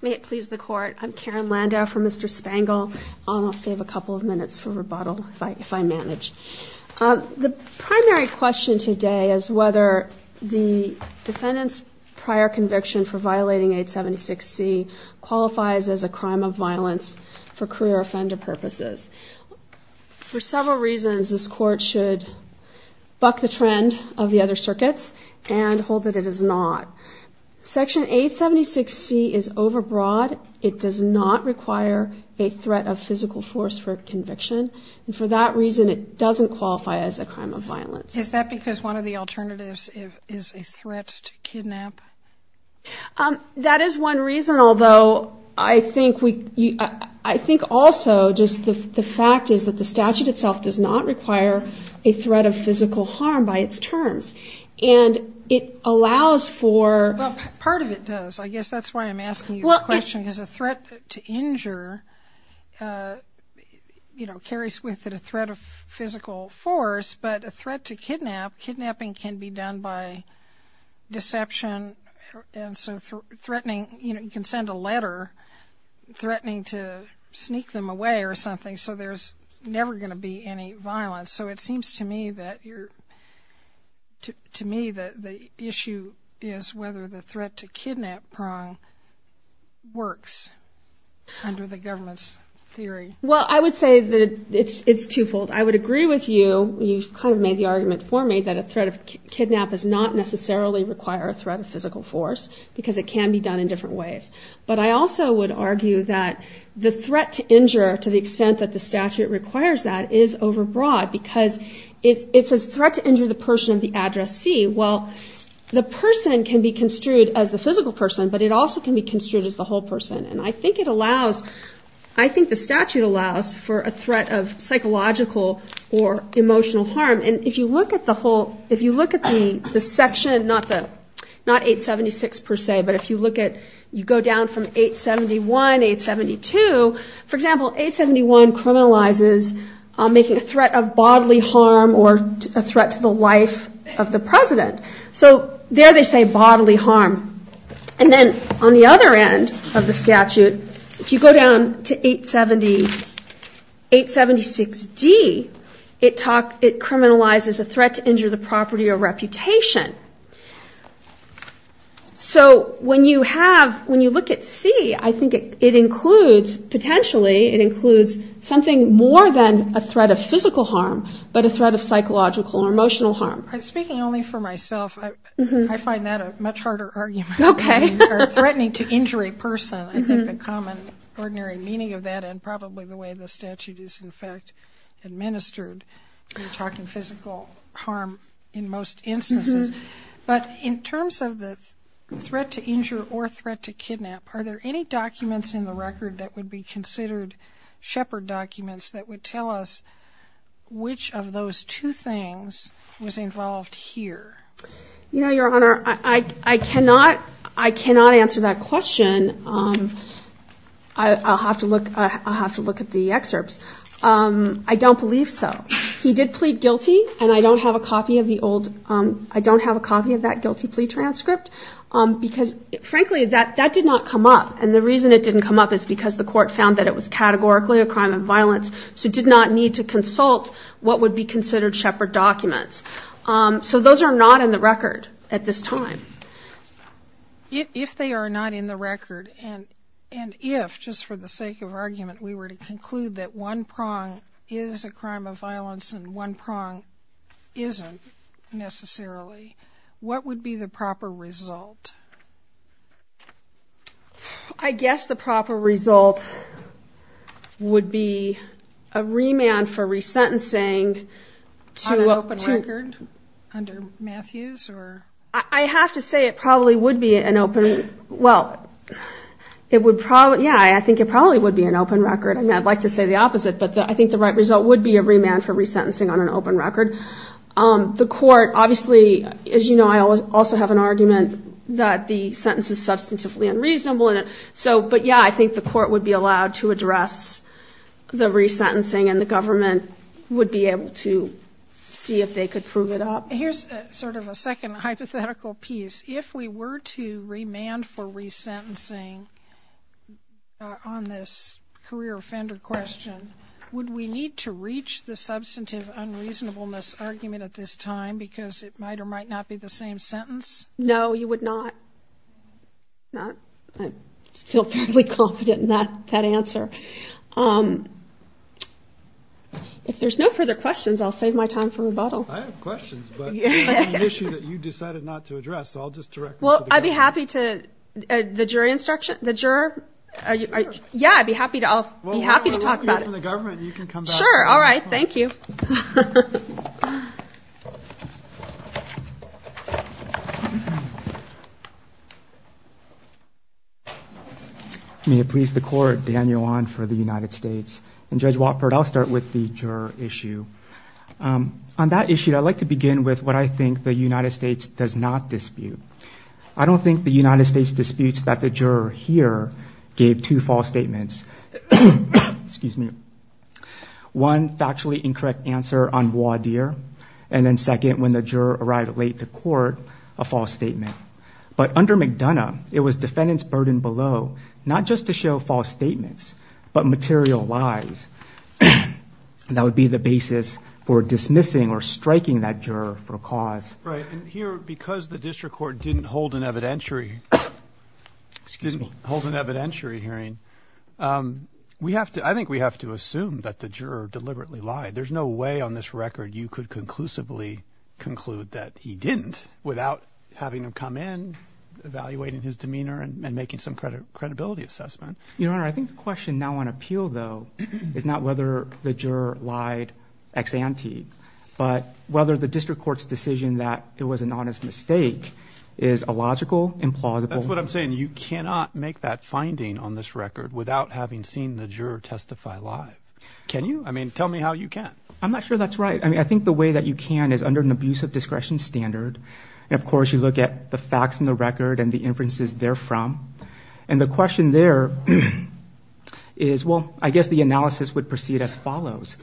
May it please the Court, I'm Karen Landau for Mr. Spangle. I'll save a couple of minutes for rebuttal if I manage. The primary question today is whether the defendant's prior conviction for violating 876C qualifies as a crime of violence for career offender purposes. For several reasons, this Court should buck the trend of the other circuits and hold that it is not. Section 876C is overbroad. It does not require a threat of physical force for conviction. And for that reason, it doesn't qualify as a crime of violence. Is that because one of the alternatives is a threat to kidnap? That is one reason, although I think also just the fact is that the statute itself does not require a threat of physical harm by its terms. And it allows for... Well, part of it does. I guess that's why I'm asking you the question. Because a threat to injure, you know, carries with it a threat of physical force. But a threat to kidnap, kidnapping can be done by deception. And so threatening, you know, you can send a letter threatening to sneak them away or something. So there's never going to be any violence. So it seems to me that you're... To me, the issue is whether the threat to kidnap prong works under the government's theory. Well, I would say that it's twofold. I would agree with you. You've kind of made the argument for me that a threat of kidnap does not necessarily require a threat of physical force because it can be done in different ways. But I also would argue that the threat to injure to the extent that the statute requires that is overbroad because it's a threat to injure the person of the address C. Well, the person can be construed as the physical person, but it also can be construed as the whole person. And I think it allows... I think the statute allows for a threat of psychological or emotional harm. And if you look at the whole... If you look at the section, not 876 per se, but if you look at... You go down from 871, 872. For example, 871 criminalizes making a threat of bodily harm or a threat to the life of the president. So there they say bodily harm. And then on the other end of the statute, if you go down to 876D, it criminalizes a threat to injure the property or reputation. So when you have... When you look at C, I think it includes... Potentially, it includes something more than a threat of physical harm, but a threat of psychological or emotional harm. Speaking only for myself, I find that a much harder argument. Okay. Or threatening to injure a person. I think the common, ordinary meaning of that and probably the way the statute is, in fact, administered, you're talking physical harm in most instances. But in terms of the threat to injure or threat to kidnap, are there any documents in the record that would be considered shepherd documents that would tell us which of those two things was involved here? Your Honor, I cannot answer that question. I'll have to look at the excerpts. I don't believe so. He did plead guilty, and I don't have a copy of the old... I don't have a copy of that guilty plea transcript because, frankly, that did not come up. And the reason it didn't come up is because the court found that it was categorically a crime of violence, so it did not need to consult what would be considered shepherd documents. So those are not in the record at this time. If they are not in the record, and if, just for the sake of argument, we were to conclude that one prong is a crime of violence and one prong isn't necessarily, what would be the proper result? I guess the proper result would be a remand for resentencing to... On an open record under Matthews? I have to say it probably would be an open... Well, it would probably, yeah, I think it probably would be an open record. I mean, I'd like to say the opposite, but I think the right result would be a remand for resentencing on an open record. The court, obviously, as you know, I also have an argument that the sentence is substantively unreasonable. But, yeah, I think the court would be allowed to address the resentencing and the government would be able to see if they could prove it up. Here's sort of a second hypothetical piece. If we were to remand for resentencing on this career offender question, would we need to reach the substantive unreasonableness argument at this time because it might or might not be the same sentence? No, you would not. I'm still fairly confident in that answer. If there's no further questions, I'll save my time for rebuttal. I have questions, but it's an issue that you decided not to address, so I'll just direct it to the jury. Well, I'd be happy to, the jury instruction, the juror, yeah, I'd be happy to talk about it. Sure, all right, thank you. May it please the court, Daniel Wan for the United States. And Judge Watford, I'll start with the juror issue. On that issue, I'd like to begin with what I think the United States does not dispute. I don't think the United States disputes that the juror here gave two false statements. Excuse me. One, factually incorrect answer on voir dire, and then second, when the juror arrived late to court, a false statement. But under McDonough, it was defendant's burden below, not just to show false statements, but material lies that would be the basis for dismissing or striking that juror for a cause. Right, and here, because the district court didn't hold an evidentiary hearing, I think we have to assume that the juror deliberately lied. There's no way on this record you could conclusively conclude that he didn't without having him come in, evaluating his demeanor, and making some credibility assessment. Your Honor, I think the question now on appeal, though, is not whether the juror lied ex ante, but whether the district court's decision that it was an honest mistake is illogical, implausible. That's what I'm saying. You cannot make that finding on this record without having seen the juror testify lie. Can you? I mean, tell me how you can. I'm not sure that's right. I mean, I think the way that you can is under an abusive discretion standard. And, of course, you look at the facts in the record and the inferences therefrom. And the question there is, well, I guess the analysis would proceed as follows.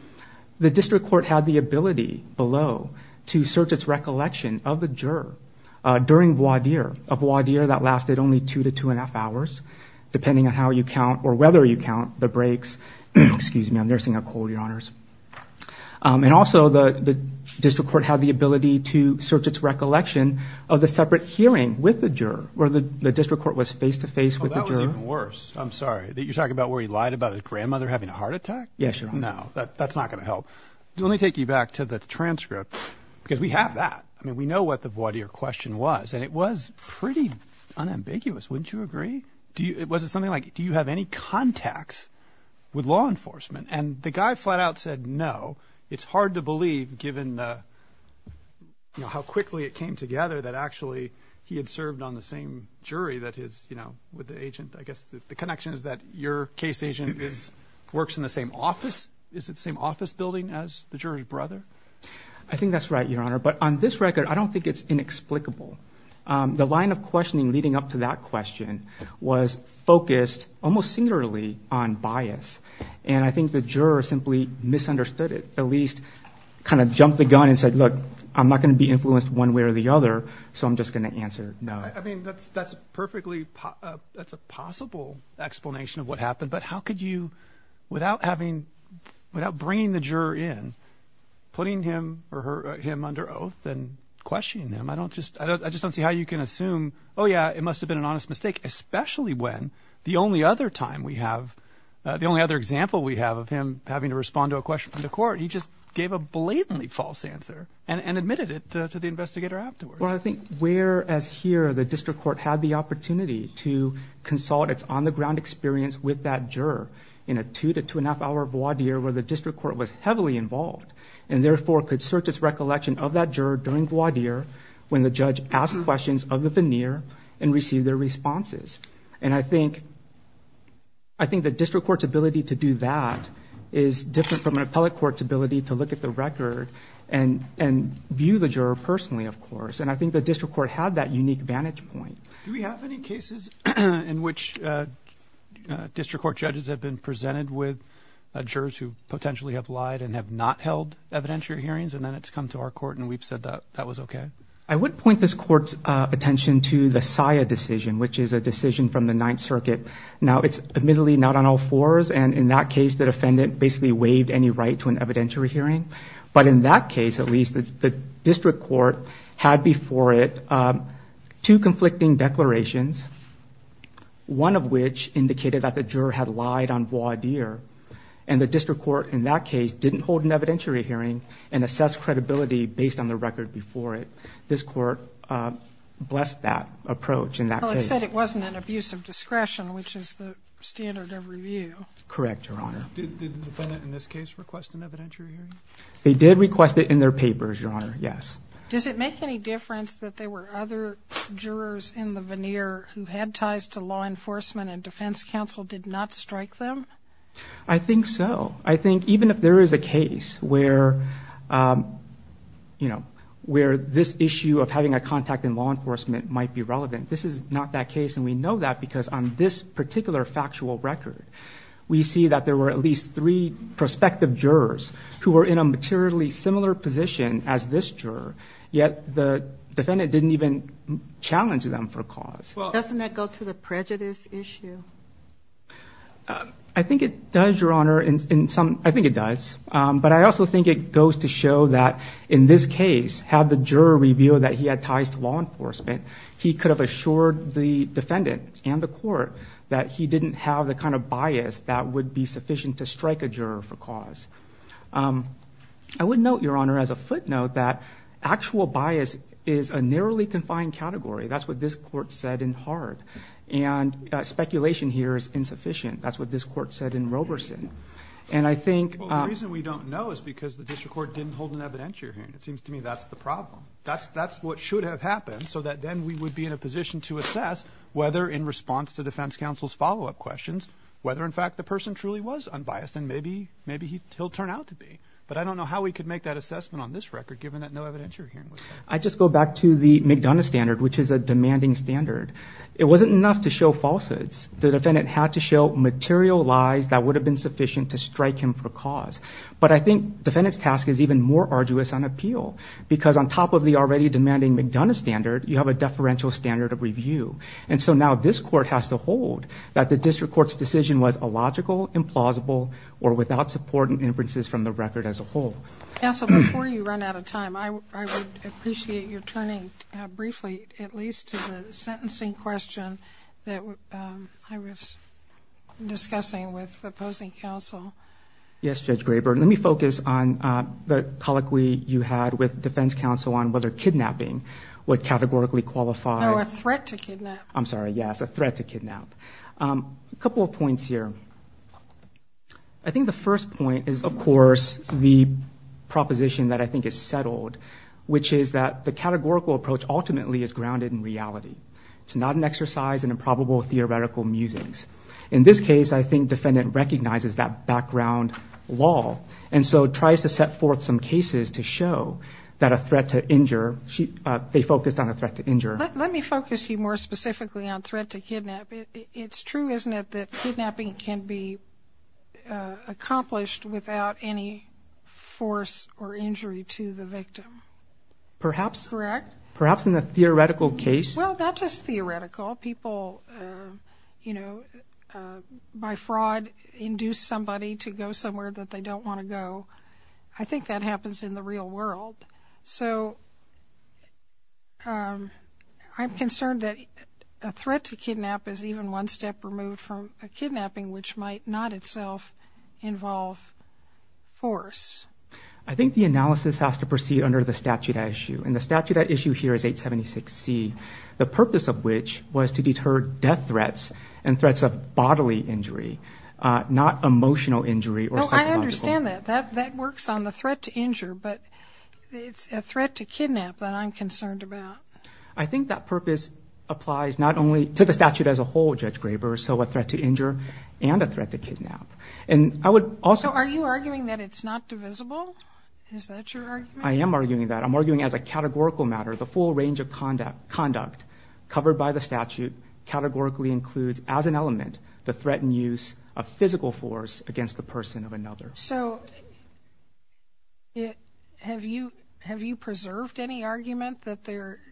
The district court had the ability below to search its recollection of the juror during voir dire, a voir dire that lasted only two to two and a half hours, depending on how you count or whether you count the breaks. Excuse me. I'm nursing a cold, Your Honors. And also the district court had the ability to search its recollection of the separate hearing with the juror, where the district court was face-to-face with the juror. Oh, that was even worse. I'm sorry. You're talking about where he lied about his grandmother having a heart attack? Yes, Your Honor. No, that's not going to help. Let me take you back to the transcript, because we have that. I mean, we know what the voir dire question was, and it was pretty unambiguous. Wouldn't you agree? Was it something like, do you have any contacts with law enforcement? And the guy flat out said no. It's hard to believe, given how quickly it came together, that actually he had served on the same jury that his, you know, with the agent. I guess the connection is that your case agent works in the same office. Is it the same office building as the juror's brother? I think that's right, Your Honor. But on this record, I don't think it's inexplicable. The line of questioning leading up to that question was focused almost singularly on bias, and I think the juror simply misunderstood it, at least kind of jumped the gun and said, look, I'm not going to be influenced one way or the other, so I'm just going to answer no. I mean, that's perfectly, that's a possible explanation of what happened, but how could you, without bringing the juror in, putting him under oath and questioning him? I just don't see how you can assume, oh, yeah, it must have been an honest mistake, especially when the only other time we have, the only other example we have of him having to respond to a question from the court, he just gave a blatantly false answer and admitted it to the investigator afterwards. Well, I think whereas here the district court had the opportunity to consult its on-the-ground experience with that juror in a two- to two-and-a-half-hour voir dire where the district court was heavily involved and therefore could search its recollection of that juror during voir dire when the judge asked questions of the veneer and received their responses. And I think the district court's ability to do that is different from an appellate court's ability to look at the record and view the juror personally, of course. And I think the district court had that unique vantage point. Do we have any cases in which district court judges have been presented with jurors who potentially have lied and have not held evidentiary hearings, and then it's come to our court and we've said that that was okay? I would point this court's attention to the SIA decision, which is a decision from the Ninth Circuit. Now, it's admittedly not on all fours, and in that case the defendant basically waived any right to an evidentiary hearing. But in that case, at least, the district court had before it two conflicting declarations, one of which indicated that the juror had lied on voir dire, and the district court in that case didn't hold an evidentiary hearing and assess credibility based on the record before it. This court blessed that approach in that case. Well, it said it wasn't an abuse of discretion, which is the standard of review. Correct, Your Honor. Did the defendant in this case request an evidentiary hearing? They did request it in their papers, Your Honor, yes. Does it make any difference that there were other jurors in the veneer who had ties to law enforcement and defense counsel did not strike them? I think so. I think even if there is a case where this issue of having a contact in law enforcement might be relevant, this is not that case, and we know that because on this particular factual record we see that there were at least three prospective jurors who were in a materially similar position as this juror, yet the defendant didn't even challenge them for cause. Doesn't that go to the prejudice issue? I think it does, Your Honor. I think it does, but I also think it goes to show that in this case, had the juror revealed that he had ties to law enforcement, he could have assured the defendant and the court that he didn't have the kind of bias that would be sufficient to strike a juror for cause. I would note, Your Honor, as a footnote, that actual bias is a narrowly confined category. That's what this court said in Hart, and speculation here is insufficient. That's what this court said in Roberson. The reason we don't know is because the district court didn't hold an evidentiary hearing. It seems to me that's the problem. That's what should have happened so that then we would be in a position to assess whether in response to defense counsel's follow-up questions, whether in fact the person truly was unbiased, and maybe he'll turn out to be. But I don't know how we could make that assessment on this record given that no evidentiary hearing was held. I just go back to the McDonough standard, which is a demanding standard. It wasn't enough to show falsehoods. The defendant had to show material lies that would have been sufficient to strike him for cause. But I think the defendant's task is even more arduous on appeal because on top of the already demanding McDonough standard, you have a deferential standard of review. And so now this court has to hold that the district court's decision was illogical, implausible, or without support and inferences from the record as a whole. Counsel, before you run out of time, I would appreciate your turning briefly at least to the sentencing question that I was discussing with the opposing counsel. Yes, Judge Graber. Let me focus on the colloquy you had with defense counsel on whether kidnapping would categorically qualify. No, a threat to kidnap. I'm sorry, yes, a threat to kidnap. A couple of points here. I think the first point is, of course, the proposition that I think is settled, which is that the categorical approach ultimately is grounded in reality. It's not an exercise in improbable theoretical musings. In this case, I think defendant recognizes that background law and so tries to set forth some cases to show that a threat to injure, they focused on a threat to injure. Let me focus you more specifically on threat to kidnap. It's true, isn't it, that kidnapping can be accomplished without any force or injury to the victim? Perhaps. Correct. Perhaps in a theoretical case. Well, not just theoretical. People, you know, by fraud induce somebody to go somewhere that they don't want to go. I think that happens in the real world. So I'm concerned that a threat to kidnap is even one step removed from a kidnapping, which might not itself involve force. I think the analysis has to proceed under the statute at issue, and the statute at issue here is 876C, the purpose of which was to deter death threats and threats of bodily injury, not emotional injury or psychological. I understand that. That works on the threat to injure, but it's a threat to kidnap that I'm concerned about. I think that purpose applies not only to the statute as a whole, Judge Graber, so a threat to injure and a threat to kidnap. So are you arguing that it's not divisible? Is that your argument? I am arguing that. I'm arguing as a categorical matter the full range of conduct covered by the statute categorically includes as an element the threat and use of physical force against the person of another. So have you preserved any argument that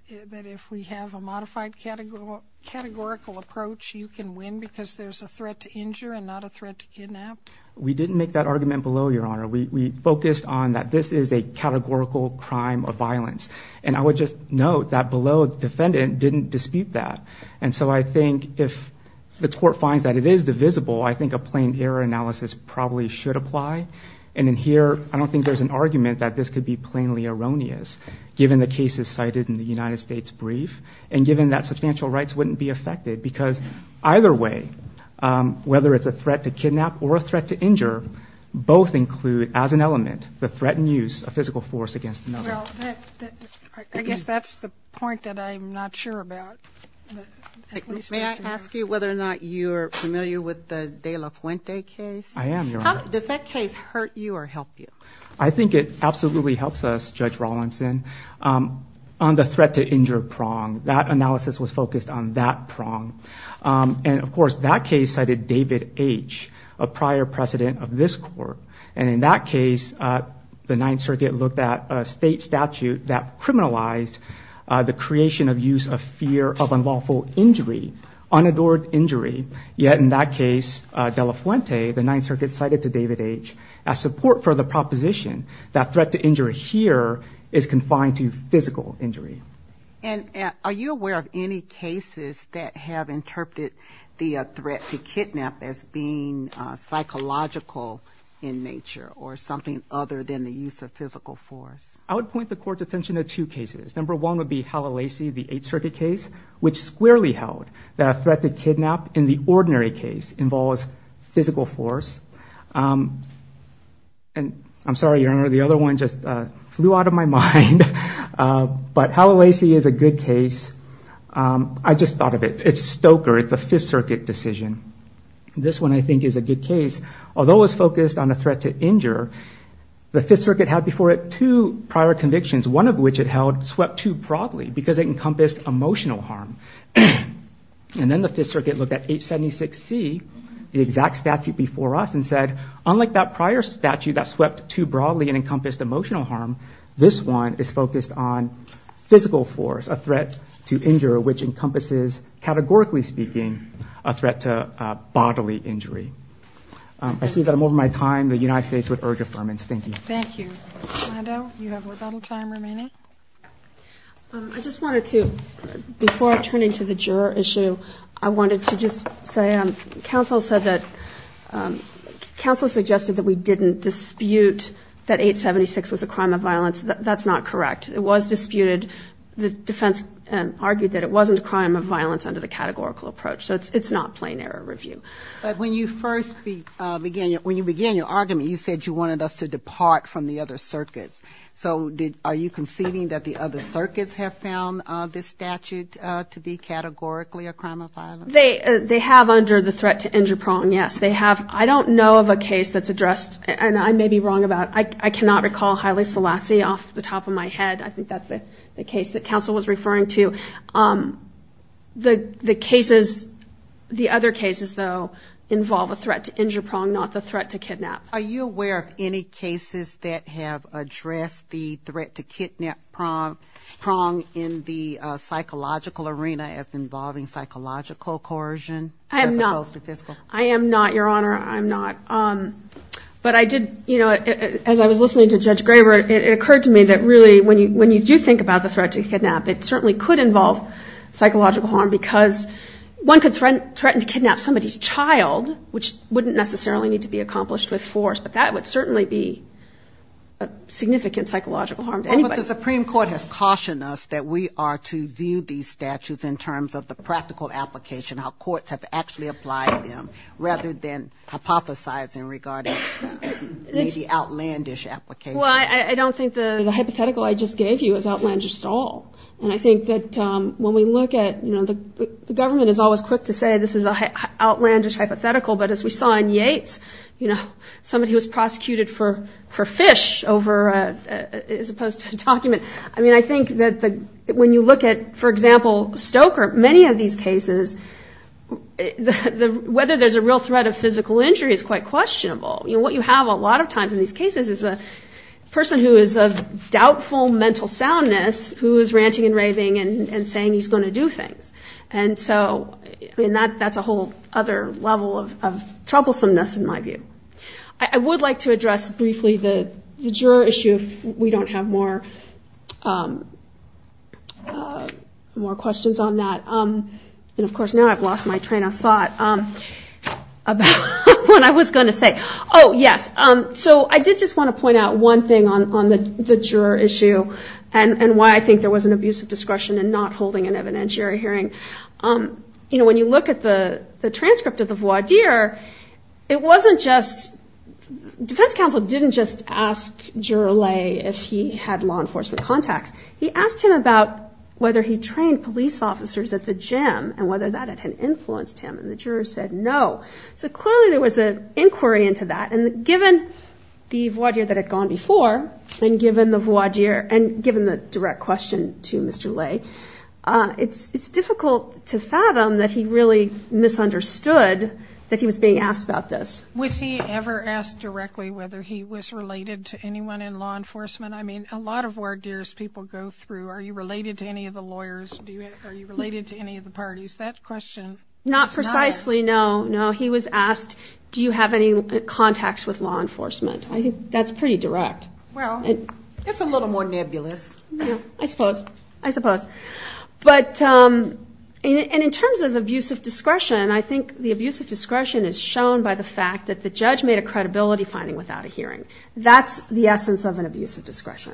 if we have a modified categorical approach, you can win because there's a threat to injure and not a threat to kidnap? We didn't make that argument below, Your Honor. We focused on that this is a categorical crime of violence, and I would just note that below the defendant didn't dispute that. And so I think if the court finds that it is divisible, I think a plain error analysis probably should apply. And in here, I don't think there's an argument that this could be plainly erroneous, given the cases cited in the United States brief and given that substantial rights wouldn't be affected, because either way, whether it's a threat to kidnap or a threat to injure, both include as an element the threat and use of physical force against another. Well, I guess that's the point that I'm not sure about. May I ask you whether or not you're familiar with the De La Fuente case? I am, Your Honor. Does that case hurt you or help you? I think it absolutely helps us, Judge Rawlinson, on the threat to injure prong. That analysis was focused on that prong. And, of course, that case cited David H., a prior president of this court. And in that case, the Ninth Circuit looked at a state statute that criminalized the creation of use of fear of unlawful injury, unadorned injury, yet in that case, De La Fuente, the Ninth Circuit cited to David H. as support for the proposition that threat to injury here is confined to physical injury. And are you aware of any cases that have interpreted the threat to kidnap as being psychological in nature or something other than the use of physical force? I would point the Court's attention to two cases. Number one would be Halalasi, the Eighth Circuit case, which squarely held that a threat to kidnap in the ordinary case involves physical force. And I'm sorry, Your Honor, the other one just flew out of my mind. But Halalasi is a good case. I just thought of it. It's Stoker, the Fifth Circuit decision. This one, I think, is a good case. Although it was focused on a threat to injure, the Fifth Circuit had before it two prior convictions, one of which it held swept too broadly because it encompassed emotional harm. And then the Fifth Circuit looked at 876C, the exact statute before us, and said, unlike that prior statute that swept too broadly and encompassed emotional harm, this one is focused on physical force, a threat to injure, which encompasses, categorically speaking, a threat to bodily injury. I see that I'm over my time. The United States would urge affirmance. Thank you. Thank you. Orlando, you have a little time remaining. I just wanted to, before I turn into the juror issue, I wanted to just say, counsel said that, counsel suggested that we didn't dispute that 876 was a crime of violence. That's not correct. It was disputed. The defense argued that it wasn't a crime of violence under the categorical approach. So it's not plain error review. But when you first began, when you began your argument, you said you wanted us to depart from the other circuits. So are you conceding that the other circuits have found this statute to be categorically a crime of violence? They have under the threat to injure prong, yes. They have. I don't know of a case that's addressed, and I may be wrong about it. I cannot recall Haile Selassie off the top of my head. I think that's the case that counsel was referring to. The cases, the other cases, though, involve a threat to injure prong, not the threat to kidnap. Are you aware of any cases that have addressed the threat to kidnap prong in the psychological arena as involving psychological coercion as opposed to physical? I am not. I am not, Your Honor. I'm not. But I did, you know, as I was listening to Judge Graber, it occurred to me that really when you do think about the threat to kidnap, it certainly could involve psychological harm because one could threaten to kidnap somebody's child, which wouldn't necessarily need to be accomplished with force. But that would certainly be a significant psychological harm to anybody. But the Supreme Court has cautioned us that we are to view these statutes in terms of the practical application, how courts have actually applied them, rather than hypothesizing regarding maybe outlandish applications. Well, I don't think the hypothetical I just gave you is outlandish at all. And I think that when we look at, you know, the government is always quick to say this is an outlandish hypothetical, but as we saw in Yates, you know, somebody was prosecuted for fish as opposed to a document. I mean, I think that when you look at, for example, Stoker, many of these cases whether there's a real threat of physical injury is quite questionable. You know, what you have a lot of times in these cases is a person who is of doubtful mental soundness who is ranting and raving and saying he's going to do things. And so, I mean, that's a whole other level of troublesomeness in my view. I would like to address briefly the juror issue if we don't have more questions on that. And, of course, now I've lost my train of thought about what I was going to say. Oh, yes. So I did just want to point out one thing on the juror issue and why I think there was an abuse of discretion in not holding an evidentiary hearing. You know, when you look at the transcript of the voir dire, it wasn't just – defense counsel didn't just ask Juror Lay if he had law enforcement contacts. He asked him about whether he trained police officers at the gym and whether that had influenced him, and the juror said no. So clearly there was an inquiry into that. And given the voir dire that had gone before and given the voir dire and given the direct question to Mr. Lay, it's difficult to fathom that he really misunderstood that he was being asked about this. Was he ever asked directly whether he was related to anyone in law enforcement? I mean, a lot of voir dires people go through. Are you related to any of the lawyers? Are you related to any of the parties? That question was not asked. Not precisely, no. He was asked, do you have any contacts with law enforcement? I think that's pretty direct. Well, it's a little more nebulous. I suppose. I suppose. But in terms of abuse of discretion, I think the abuse of discretion is shown by the fact that the judge made a credibility finding without a hearing. That's the essence of an abuse of discretion.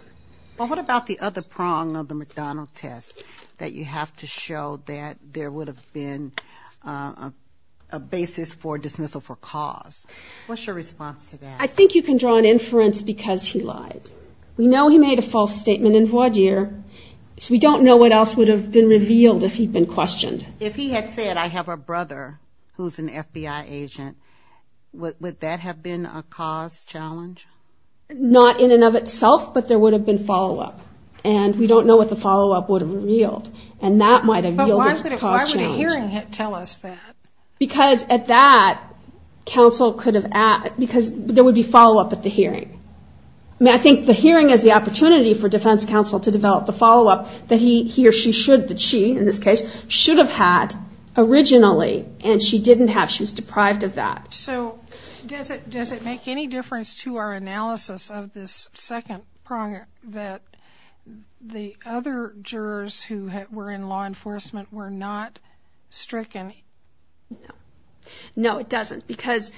Well, what about the other prong of the McDonald test that you have to show that there would have been a basis for dismissal for cause? What's your response to that? I think you can draw an inference because he lied. We know he made a false statement in voir dire. We don't know what else would have been revealed if he'd been questioned. If he had said, I have a brother who's an FBI agent, would that have been a cause challenge? Not in and of itself, but there would have been follow-up. And we don't know what the follow-up would have revealed. And that might have yielded a cause challenge. But why would a hearing tell us that? Because at that, counsel could have asked. Because there would be follow-up at the hearing. I think the hearing is the opportunity for defense counsel to develop the follow-up that he or she should, that she, in this case, should have had originally, and she didn't have. She was deprived of that. So does it make any difference to our analysis of this second pronger that the other jurors who were in law enforcement were not stricken? No. No, it doesn't. Because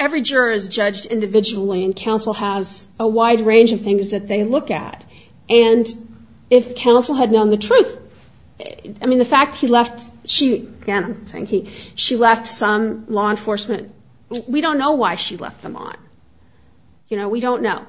every juror is judged individually, and counsel has a wide range of things that they look at. And if counsel had known the truth, I mean, the fact he left, she, again, I'm saying he, she left some law enforcement, we don't know why she left them on. You know, we don't know.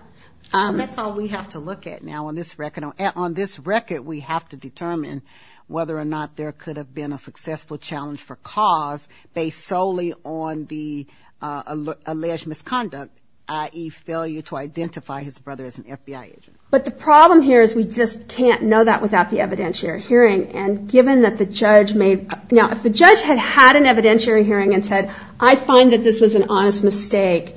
That's all we have to look at now on this record. On this record, we have to determine whether or not there could have been a successful challenge for cause based solely on the alleged misconduct, i.e., failure to identify his brother as an FBI agent. But the problem here is we just can't know that without the evidentiary hearing. And given that the judge may, now, if the judge had had an evidentiary hearing and said, I find that this was an honest mistake,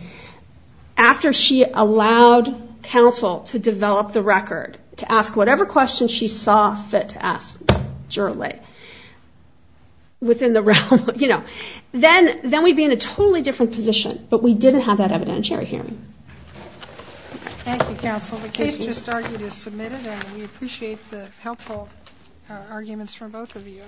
after she allowed counsel to develop the record, to ask whatever questions she saw fit to ask Juralee within the realm, you know, then we'd be in a totally different position. But we didn't have that evidentiary hearing. Thank you, counsel. The case just argued is submitted, and we appreciate the helpful arguments from both of you.